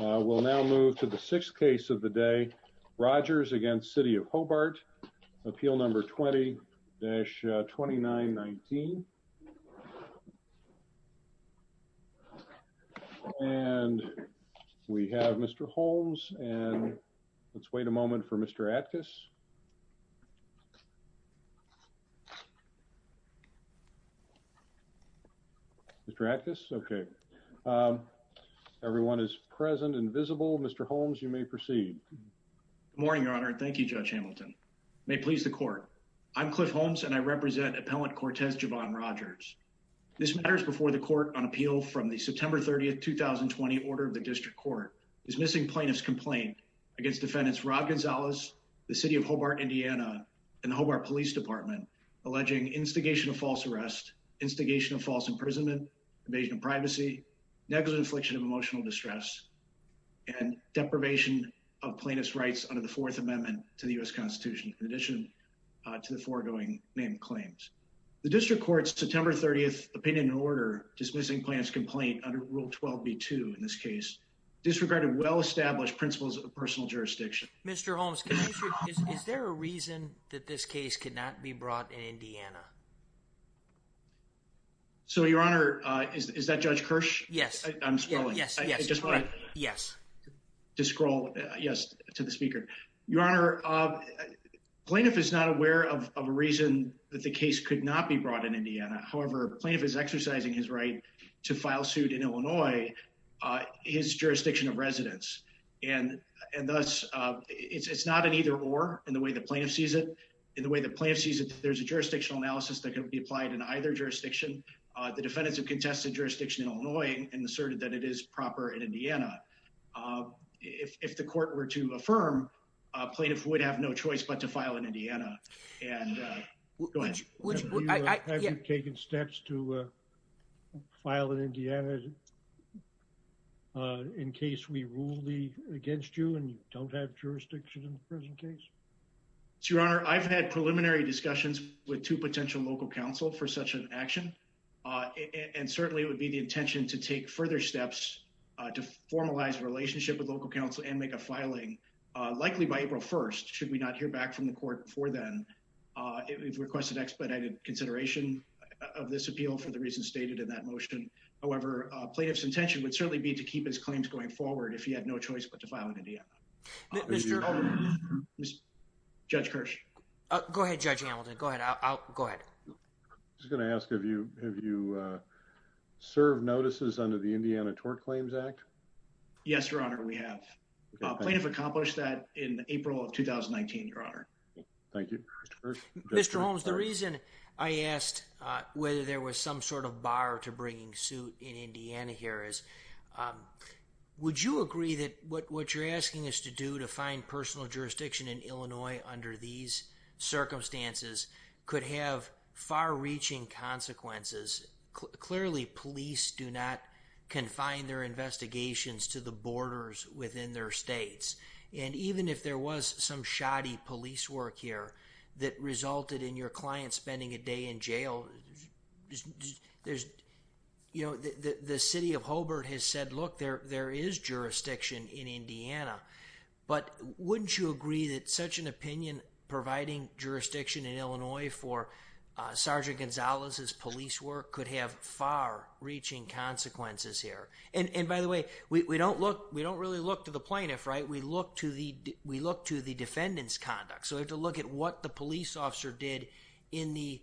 We'll now move to the sixth case of the day, Rogers against City of Hobart, Appeal Number 20-2919. And we have Mr. Holmes. And let's wait a moment for Mr. Atkus. Mr. Atkus? OK. OK. Everyone is present and visible. Mr. Holmes, you may proceed. Good morning, Your Honor. Thank you, Judge Hamilton. May it please the court. I'm Cliff Holmes, and I represent appellant Cortez Javan Rogers. This matter is before the court on appeal from the September 30, 2020, order of the district court. Dismissing plaintiff's complaint against defendants Rob Gonzalez, the City of Hobart, Indiana, and the Hobart Police Department alleging instigation of false arrest, instigation of false imprisonment, invasion of privacy, negligent infliction of emotional distress, and deprivation of plaintiff's rights under the Fourth Amendment to the US Constitution, in addition to the foregoing name claims. The district court's September 30 opinion and order dismissing plaintiff's complaint under Rule 12b-2 in this case disregarded well-established principles of personal jurisdiction. Mr. Holmes, is there a reason that this case could not be brought in Indiana? So, Your Honor, is that Judge Kirsch? Yes. I'm scrolling. Yes, yes. Just wanted to scroll, yes, to the speaker. Your Honor, plaintiff is not aware of a reason that the case could not be brought in Indiana. However, plaintiff is exercising his right to file suit in Illinois, his jurisdiction of residence. And thus, it's not an either or in the way the plaintiff sees it. In the way the plaintiff sees it, there's a jurisdictional analysis that can be applied in either jurisdiction. The defendants have contested jurisdiction in Illinois and asserted that it is proper in Indiana. If the court were to affirm, plaintiff would have no choice but to file in Indiana. And go ahead. Have you taken steps to file in Indiana in case we rule against you and you don't have jurisdiction in the present case? Your Honor, I've had preliminary discussions with two potential local counsel for such an action. And certainly, it would be the intention to take further steps to formalize a relationship with local counsel and make a filing. Likely by April 1, should we not hear back from the court before then, we've requested expedited consideration of this appeal for the reasons stated in that motion. However, plaintiff's intention would certainly be to keep his claims going forward if he had no choice but to file in Indiana. Mr. O'Connor. Judge Kirsch. Go ahead, Judge Hamilton. Go ahead. I was going to ask, have you served notices under the Indiana Tort Claims Act? Yes, Your Honor, we have. Plaintiff accomplished that in April of 2019, Your Honor. Thank you. Mr. Holmes, the reason I asked whether there was some sort of bar to bringing suit in Indiana here is, would you agree that what you're asking us to do to find personal jurisdiction in Illinois under these circumstances could have far-reaching consequences? Clearly, police do not confine their investigations to the borders within their states. And even if there was some shoddy police work here that resulted in your client spending a day in jail, the city of Hobart has said, look, there is jurisdiction in Indiana. But wouldn't you agree that such an opinion providing jurisdiction in Illinois for Sergeant Gonzalez's police work could have far-reaching consequences here? And by the way, we don't really look to the plaintiff, right? We look to the defendant's conduct. So we have to look at what the police officer did in the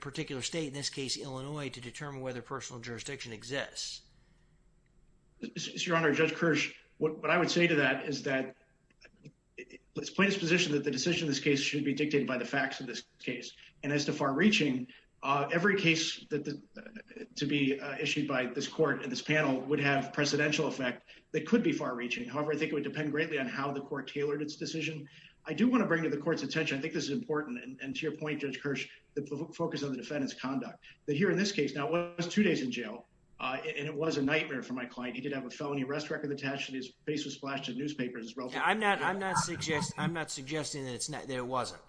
particular state, in this case, Illinois, to determine whether personal jurisdiction exists. Your Honor, Judge Kirsch, what I would say to that is that the plaintiff's position that the decision of this case should be dictated by the facts of this case. And as to far-reaching, every case to be issued by this court and this panel would have a precedential effect that could be far-reaching. However, I think it would depend greatly on how the court tailored its decision. I do want to bring to the court's attention, I think this is important, and to your point, Judge Kirsch, that here in this case, now it was two days in jail, and it was a nightmare for my client. He did have a felony arrest record attached to his face was splashed in newspapers. I'm not suggesting that it wasn't.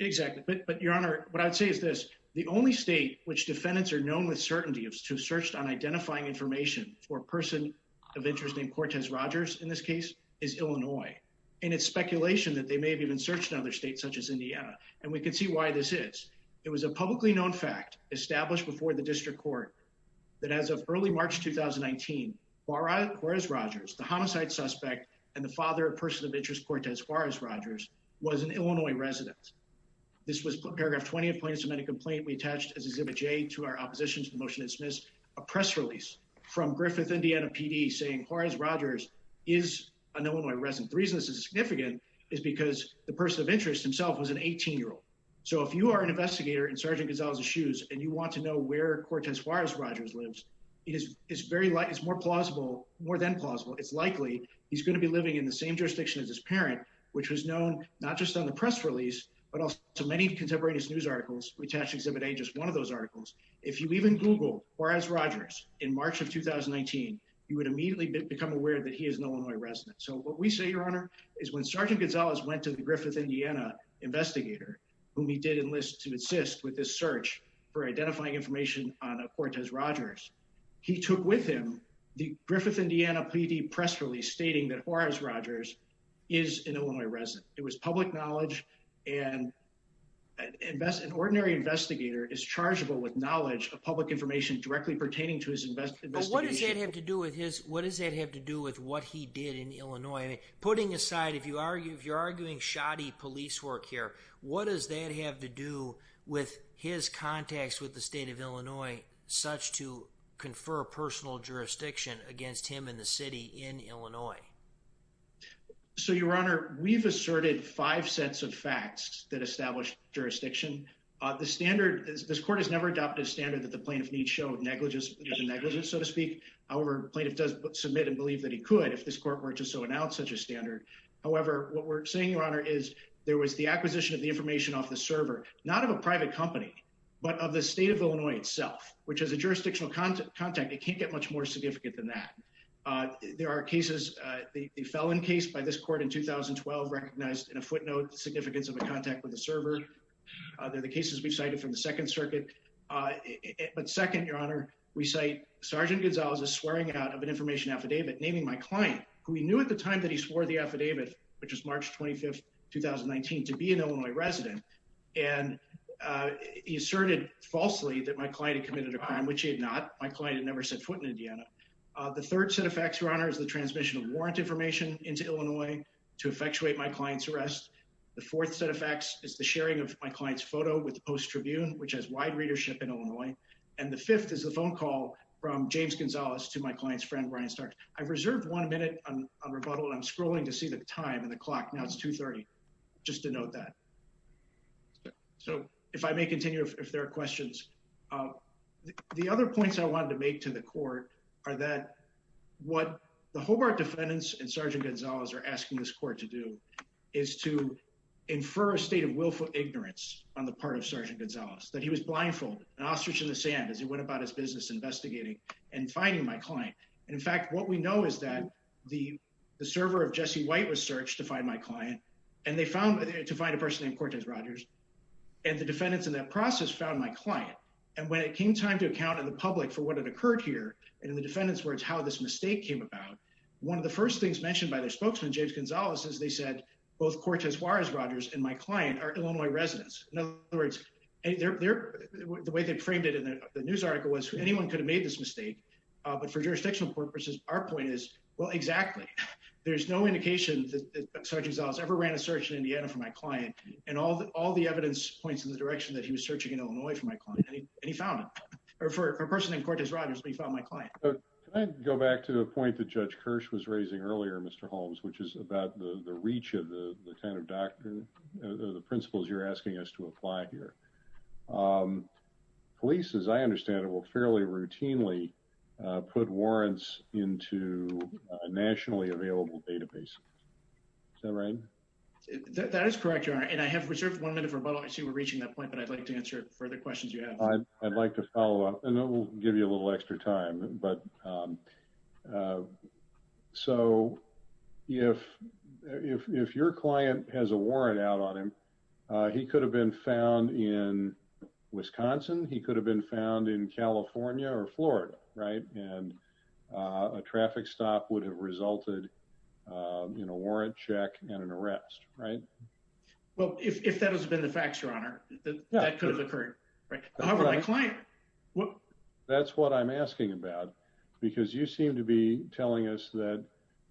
Exactly. But, Your Honor, what I'd say is this. The only state which defendants are known with certainty to have searched on identifying information for a person of interest named Cortez Rogers, in this case, is Illinois. And it's speculation that they may have even searched in other states, such as Indiana. And we can see why this is. It was a publicly known fact established before the district court that as of early March, 2019, Juarez Rogers, the homicide suspect, and the father of person of interest, Cortez Juarez Rogers, was an Illinois resident. This was paragraph 20 of plaintiff's amendment complaint we attached as Exhibit J to our opposition to the motion to dismiss a press release from Griffith, Indiana PD saying Juarez Rogers is an Illinois resident. The reason this is significant is because the person of interest himself was an 18-year-old. So if you are an investigator in Sergeant Gonzalez's shoes, and you want to know where Cortez Juarez Rogers lives, it is very likely, it's more plausible, more than plausible, it's likely he's gonna be living in the same jurisdiction as his parent, which was known not just on the press release, but also many contemporaneous news articles we attached to Exhibit A, just one of those articles. If you even Google Juarez Rogers in March of 2019, you would immediately become aware that he is an Illinois resident. So what we say, Your Honor, is when Sergeant Gonzalez went to the Griffith, Indiana investigator, whom he did enlist to assist with this search for identifying information on Cortez Rogers, he took with him the Griffith, Indiana PD press release stating that Juarez Rogers is an Illinois resident. It was public knowledge, and an ordinary investigator is chargeable with knowledge of public information directly pertaining to his investigation. But what does that have to do with his, what does that have to do with what he did in Illinois? Putting aside, if you're arguing shoddy police work here, what does that have to do with his contacts with the state of Illinois, such to confer personal jurisdiction against him in the city in Illinois? So, Your Honor, we've asserted five sets of facts that established jurisdiction. The standard, this court has never adopted a standard that the plaintiff needs show negligence, so to speak. However, plaintiff does submit and believe that he could if this court were to so announce such a standard. However, what we're saying, Your Honor, is there was the acquisition of the information off the server, not of a private company, but of the state of Illinois itself, which has a jurisdictional contact. It can't get much more significant than that. There are cases, the felon case by this court in 2012, recognized in a footnote, the significance of a contact with the server. They're the cases we've cited from the Second Circuit. But second, Your Honor, we cite Sergeant Gonzalez's swearing out of an information affidavit naming my client, who he knew at the time that he swore the affidavit, which was March 25th, 2019, to be an Illinois resident. And he asserted falsely that my client had committed a crime, which he had not. My client had never set foot in Indiana. The third set of facts, Your Honor, is the transmission of warrant information into Illinois to effectuate my client's arrest. The fourth set of facts is the sharing of my client's photo with the Post Tribune, which has wide readership in Illinois. And the fifth is the phone call from James Gonzalez to my client's friend, Brian Starks. I've reserved one minute on rebuttal. I'm scrolling to see the time and the clock. Now it's 2.30, just to note that. So if I may continue, if there are questions. The other points I wanted to make to the court are that what the Hobart defendants and Sergeant Gonzalez are asking this court to do is to infer a state of willful ignorance on the part of Sergeant Gonzalez, that he was blindfolded, an ostrich in the sand, as he went about his business investigating and finding my client. And in fact, what we know is that the server of Jesse White was searched to find my client, and they found, to find a person named Cortez Rogers, and the defendants in that process found my client. And when it came time to account to the public for what had occurred here, and the defendants' words, how this mistake came about, one of the first things mentioned by their spokesman, James Gonzalez, is they said, both Cortez Juarez Rogers and my client are Illinois residents. In other words, the way they framed it in the news article was, anyone could have made this mistake, but for jurisdictional purposes, our point is, well, exactly. There's no indication that Sergeant Gonzalez ever ran a search in Indiana for my client, and all the evidence points in the direction that he was searching in Illinois for my client, and he found him, or for a person named Cortez Rogers, but he found my client. Can I go back to the point that Judge Kirsch was raising earlier, Mr. Holmes, which is about the reach of the kind of doctor, the principles you're asking us to apply here. Police, as I understand it, will fairly routinely put warrants into a nationally available database. Is that right? That is correct, Your Honor, and I have reserved one minute for rebuttal. I see we're reaching that point, but I'd like to answer further questions you have. I'd like to follow up, and then we'll give you a little extra time, but so if your client has a warrant out on him, he could have been found in Wisconsin, he could have been found in California or Florida, right? And a traffic stop would have resulted in a warrant check and an arrest, right? Well, if that has been the fact, Your Honor, that could have occurred, right? However, my client, well- That's what I'm asking about, because you seem to be telling us that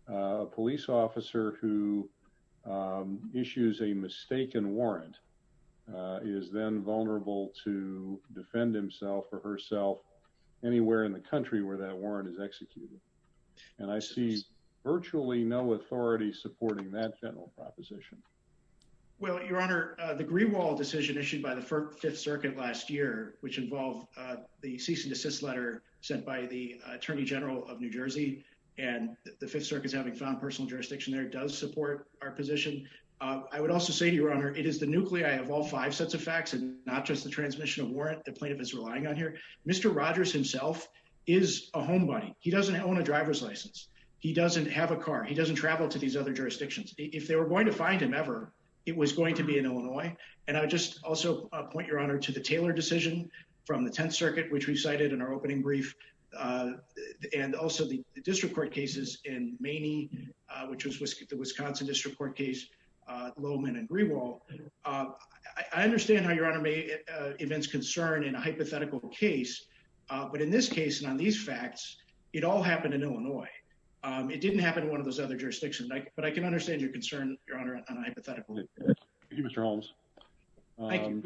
a police officer who issues a mistaken warrant is then vulnerable to defend himself or herself anywhere in the country where that warrant is executed. And I see virtually no authority supporting that general proposition. Well, Your Honor, the Greenwald decision issued by the Fifth Circuit last year, which involved the cease and desist letter sent by the Attorney General of New Jersey, and the Fifth Circuit's having found personal jurisdiction there, does support our position. I would also say, Your Honor, it is the nuclei of all five sets of facts, and not just the transmission of warrant the plaintiff is relying on here. Mr. Rogers himself is a homebody. He doesn't own a driver's license. He doesn't have a car. He doesn't travel to these other jurisdictions. If they were going to find him ever, it was going to be in Illinois. And I would just also point, Your Honor, to the Taylor decision from the 10th Circuit, which we cited in our opening brief, and also the district court cases in Maney, which was the Wisconsin district court case, Littleman and Greenwald. I understand how Your Honor may events concern in a hypothetical case, but in this case, and on these facts, it all happened in Illinois. It didn't happen in one of those other jurisdictions, but I can understand your concern, Your Honor, on a hypothetical case. Thank you, Mr. Holmes. Thank you.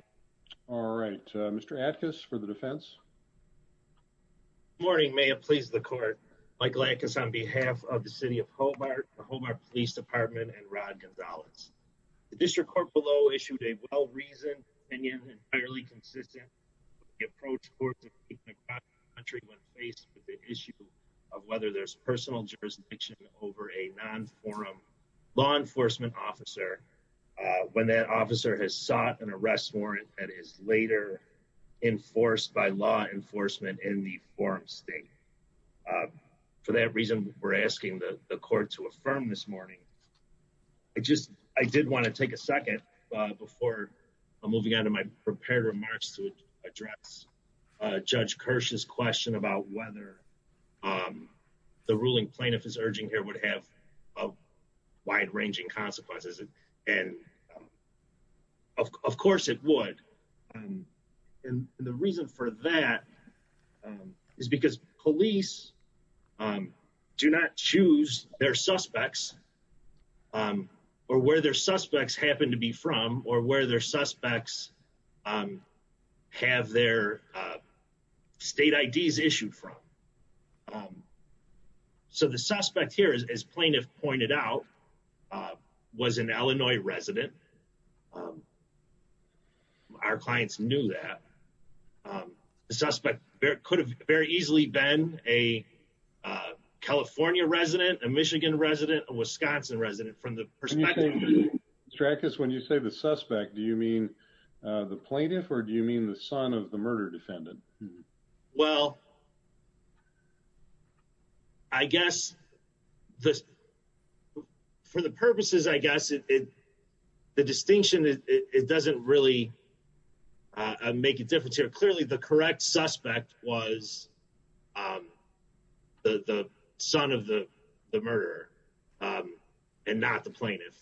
All right, Mr. Atkins for the defense. Good morning, may it please the court. Mike Atkins on behalf of the city of Hobart, the Hobart Police Department, and Rod Gonzalez. The district court below issued a well-reasoned and yet entirely consistent approach towards the people of the country when faced with the issue of whether there's personal jurisdiction over a non-forum law enforcement officer when that officer has sought an arrest warrant that is later enforced by law enforcement in the forum state. For that reason, we're asking the court to affirm this morning. I just, I did wanna take a second before I'm moving on to my prepared remarks to address Judge Kirsch's question about whether the ruling plaintiff is urging here would have wide ranging consequences. And of course it would. And the reason for that is because police do not choose their suspects or where their suspects happen to be from or where their suspects have their state IDs issued from. So the suspect here, as plaintiff pointed out, was an Illinois resident. Our clients knew that. The suspect could have very easily been a California resident, a Michigan resident, a Wisconsin resident from the perspective. Strakas, when you say the suspect, do you mean the plaintiff or do you mean the son of the murder defendant? Well, I guess for the purposes, I guess the distinction, it doesn't really make a difference here. Clearly the correct suspect was the son of the murderer and not the plaintiff.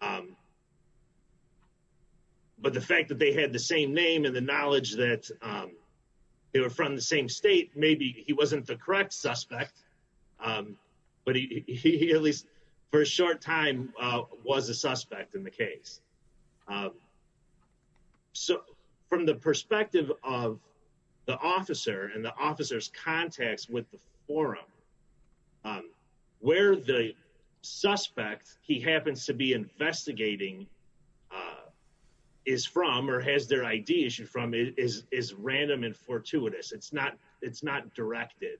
But the fact that they had the same name and the knowledge that they were from the same state, maybe he wasn't the correct suspect, but he at least for a short time was a suspect in the case. So from the perspective of the officer and the officer's contacts with the forum, where the suspect he happens to be investigating is from or has their ID issued from is random and fortuitous. It's not directed.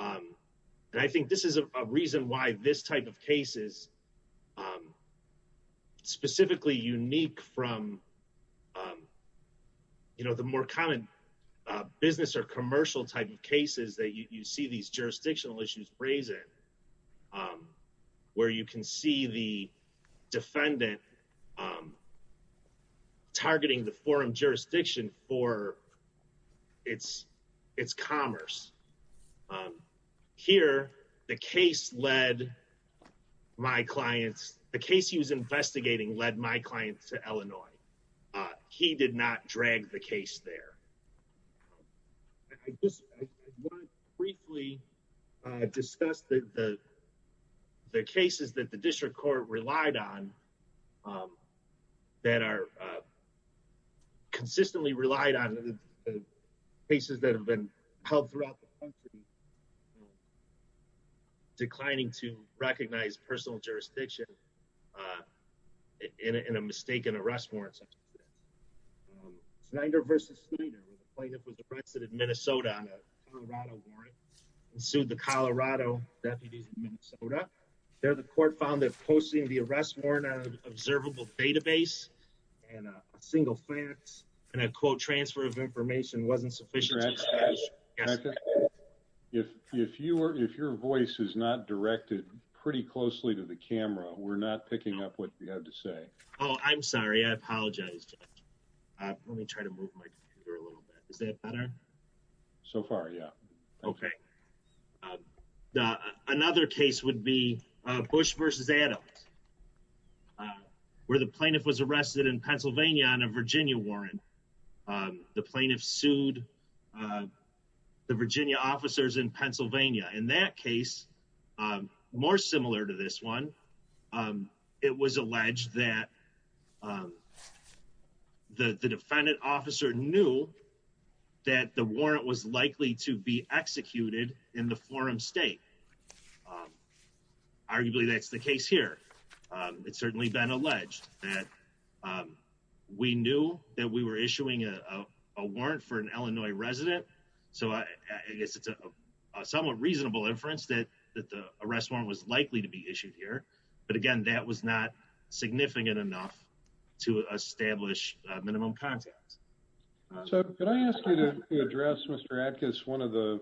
And I think this is a reason why this type of cases, specifically unique from the more common business or commercial type of cases that you see these jurisdictional issues raise it, where you can see the defendant targeting the forum jurisdiction for its commerce. Here, the case led my clients, the case he was investigating led my clients to Illinois. He did not drag the case there. I just want to briefly discuss the cases that the district court relied on that are consistently relied on the cases that have been held throughout the country, declining to recognize personal jurisdiction in a mistaken arrest warrants. Snyder versus Snyder, where the plaintiff was arrested in Minnesota on a Colorado warrant and sued the Colorado deputies in Minnesota. There, the court found that posting the arrest warrant on an observable database and a single fax and a quote transfer of information wasn't sufficient to address the case. If you were, if your voice is not directed pretty closely to the camera, we're not picking up what you have to say. Oh, I'm sorry. I apologize. Let me try to move my computer a little bit. Is that better? So far, yeah. Okay. Another case would be Bush versus Adams, where the plaintiff was arrested in Pennsylvania on a Virginia warrant. And the plaintiff sued the Virginia officers in Pennsylvania. In that case, more similar to this one, it was alleged that the defendant officer knew that the warrant was likely to be executed in the forum state. Arguably, that's the case here. It's certainly been alleged that we knew that we were issuing a warrant for an Illinois resident. So I guess it's a somewhat reasonable inference that the arrest warrant was likely to be issued here. But again, that was not significant enough to establish a minimum context. So could I ask you to address, Mr. Atkins, one of the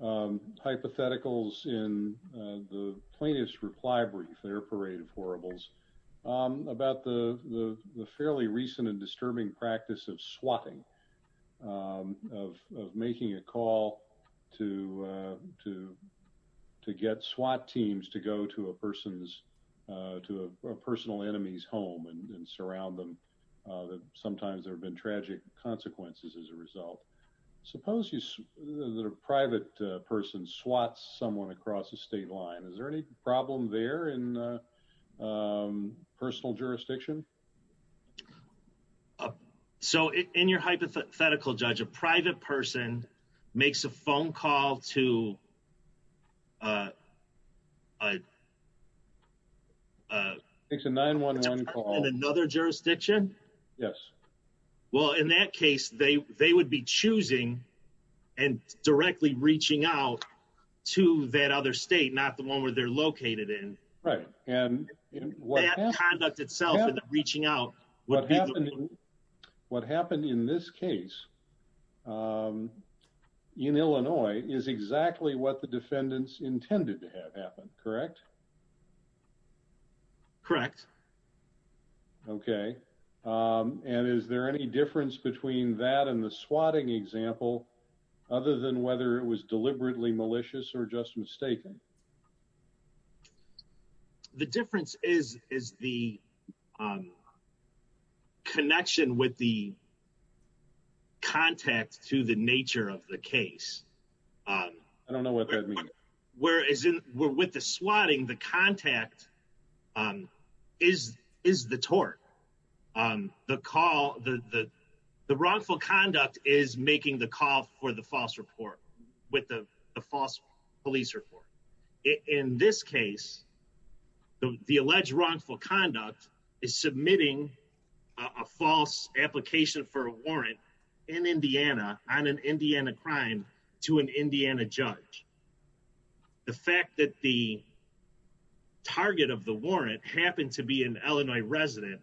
hypotheticals in the plaintiff's reply brief, their parade of horribles, about the fairly recent and disturbing practice of swatting, of making a call to get swat teams to go to a person's, to a personal enemy's home and surround them. Sometimes there've been tragic consequences as a result. Suppose that a private person swats someone across the state line. Is there any problem there in personal jurisdiction? So in your hypothetical, Judge, a private person makes a phone call to... It's a 911 call. In another jurisdiction? Yes. Well, in that case, they would be choosing and directly reaching out to that other state, not the one where they're located in. Right. And what happened... They have conduct itself in the reaching out. What happened in this case in Illinois is exactly what the defendants intended to have happen, correct? Correct. Okay. And is there any difference between that and the swatting example, other than whether it was deliberately malicious or just mistaken? The difference is the connection with the contact to the nature of the case. I don't know what that means. Whereas with the swatting, the contact is the tort. The call, the wrongful conduct is making the call for the false report with the false police report. In this case, the alleged wrongful conduct is submitting a false application for a warrant in Indiana on an Indiana crime to an Indiana judge. The fact that the target of the warrant happened to be an Illinois resident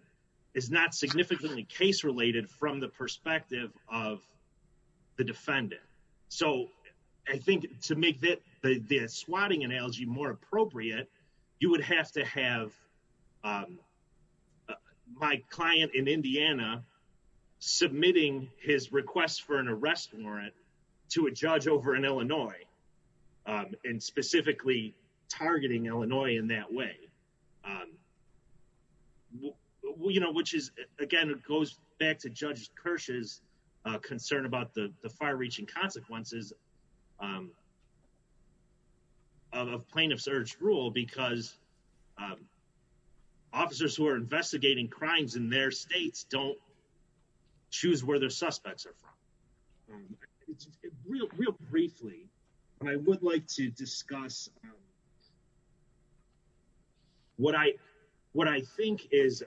is not significantly case-related from the perspective of the defendant. So I think to make the swatting analogy more appropriate, you would have to have my client in Indiana submitting his request for an arrest warrant to a judge over in Illinois and specifically targeting Illinois in that way. Which is, again, it goes back to Judge Kirsch's concern about the far-reaching consequences of plaintiff's urge rule because officers who are investigating crimes in their states don't choose where their suspects are from. Real briefly, I would like to discuss what I think is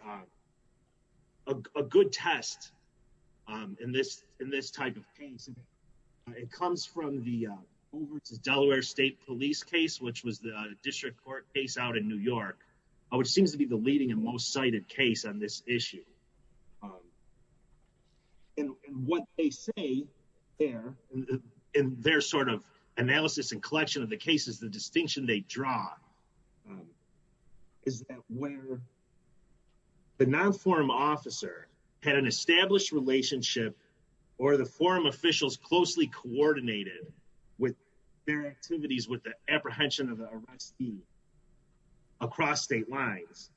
a good test in this type of case. It comes from the Delaware State Police case, which was the district court case out in New York, which seems to be the leading and most cited case on this issue. And what they say there, in their sort of analysis and collection of the cases, the distinction they draw is that where the non-forum officer had an established relationship or the forum officials closely coordinated with their activities, with the apprehension of the arrestee across state lines,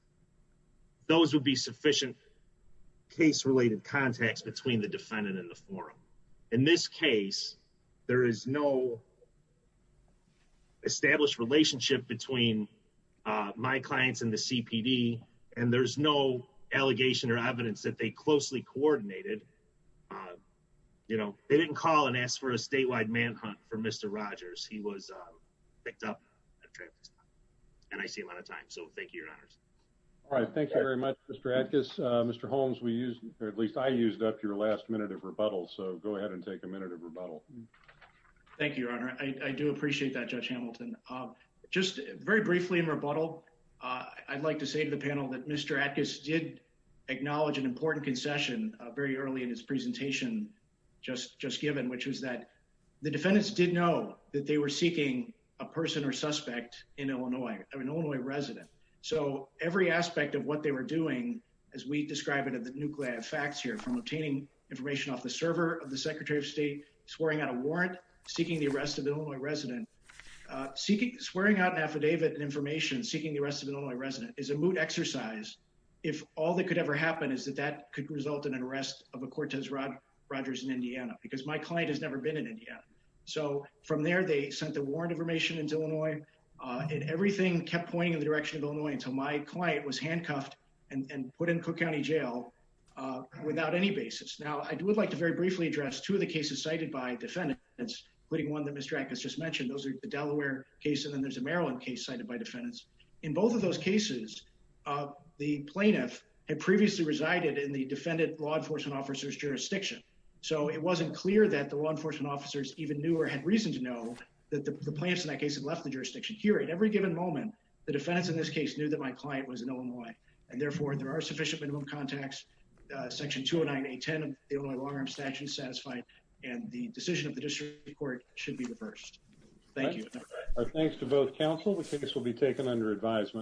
those would be sufficient case-related contacts between the defendant and the forum. In this case, there is no established relationship between my clients and the CPD, and there's no allegation or evidence that they closely coordinated. They didn't call and ask for a statewide manhunt for Mr. Rogers. He was picked up at a traffic stop, and I see him on a time. So thank you, Your Honors. All right, thank you very much, Mr. Atkins. Mr. Holmes, we used, or at least I used up your last minute of rebuttal. So go ahead and take a minute of rebuttal. Thank you, Your Honor. I do appreciate that, Judge Hamilton. Just very briefly in rebuttal, I'd like to say to the panel that Mr. Atkins did acknowledge an important concession very early in his presentation just given, which was that the defendants did know that they were seeking a person or suspect in Illinois, an Illinois resident. So every aspect of what they were doing, as we describe it in the nuclear facts here, from obtaining information off the server of the Secretary of State, swearing out a warrant, seeking the arrest of an Illinois resident, swearing out an affidavit and information, seeking the arrest of an Illinois resident is a moot exercise if all that could ever happen is that that could result in an arrest of a Cortez Rogers in Indiana, because my client has never been in Indiana. So from there, they sent the warrant information into Illinois, and everything kept pointing in the direction of Illinois until my client was handcuffed and put in Cook County Jail without any basis. Now, I would like to very briefly address two of the cases cited by defendants, including one that Mr. Atkins just mentioned. Those are the Delaware case, and then there's a Maryland case cited by defendants. In both of those cases, the plaintiff had previously resided in the defendant law enforcement officer's jurisdiction. So it wasn't clear that the law enforcement officers even knew or had reason to know that the plaintiffs in that case Here, at every given moment, the defendants in this case knew that my client was in Illinois. And therefore, there are sufficient minimum contacts. Section 209A10 of the Illinois Long-Arm Statute is satisfied and the decision of the district court should be reversed. Thank you. All right, thanks to both counsel. The case will be taken under advisement.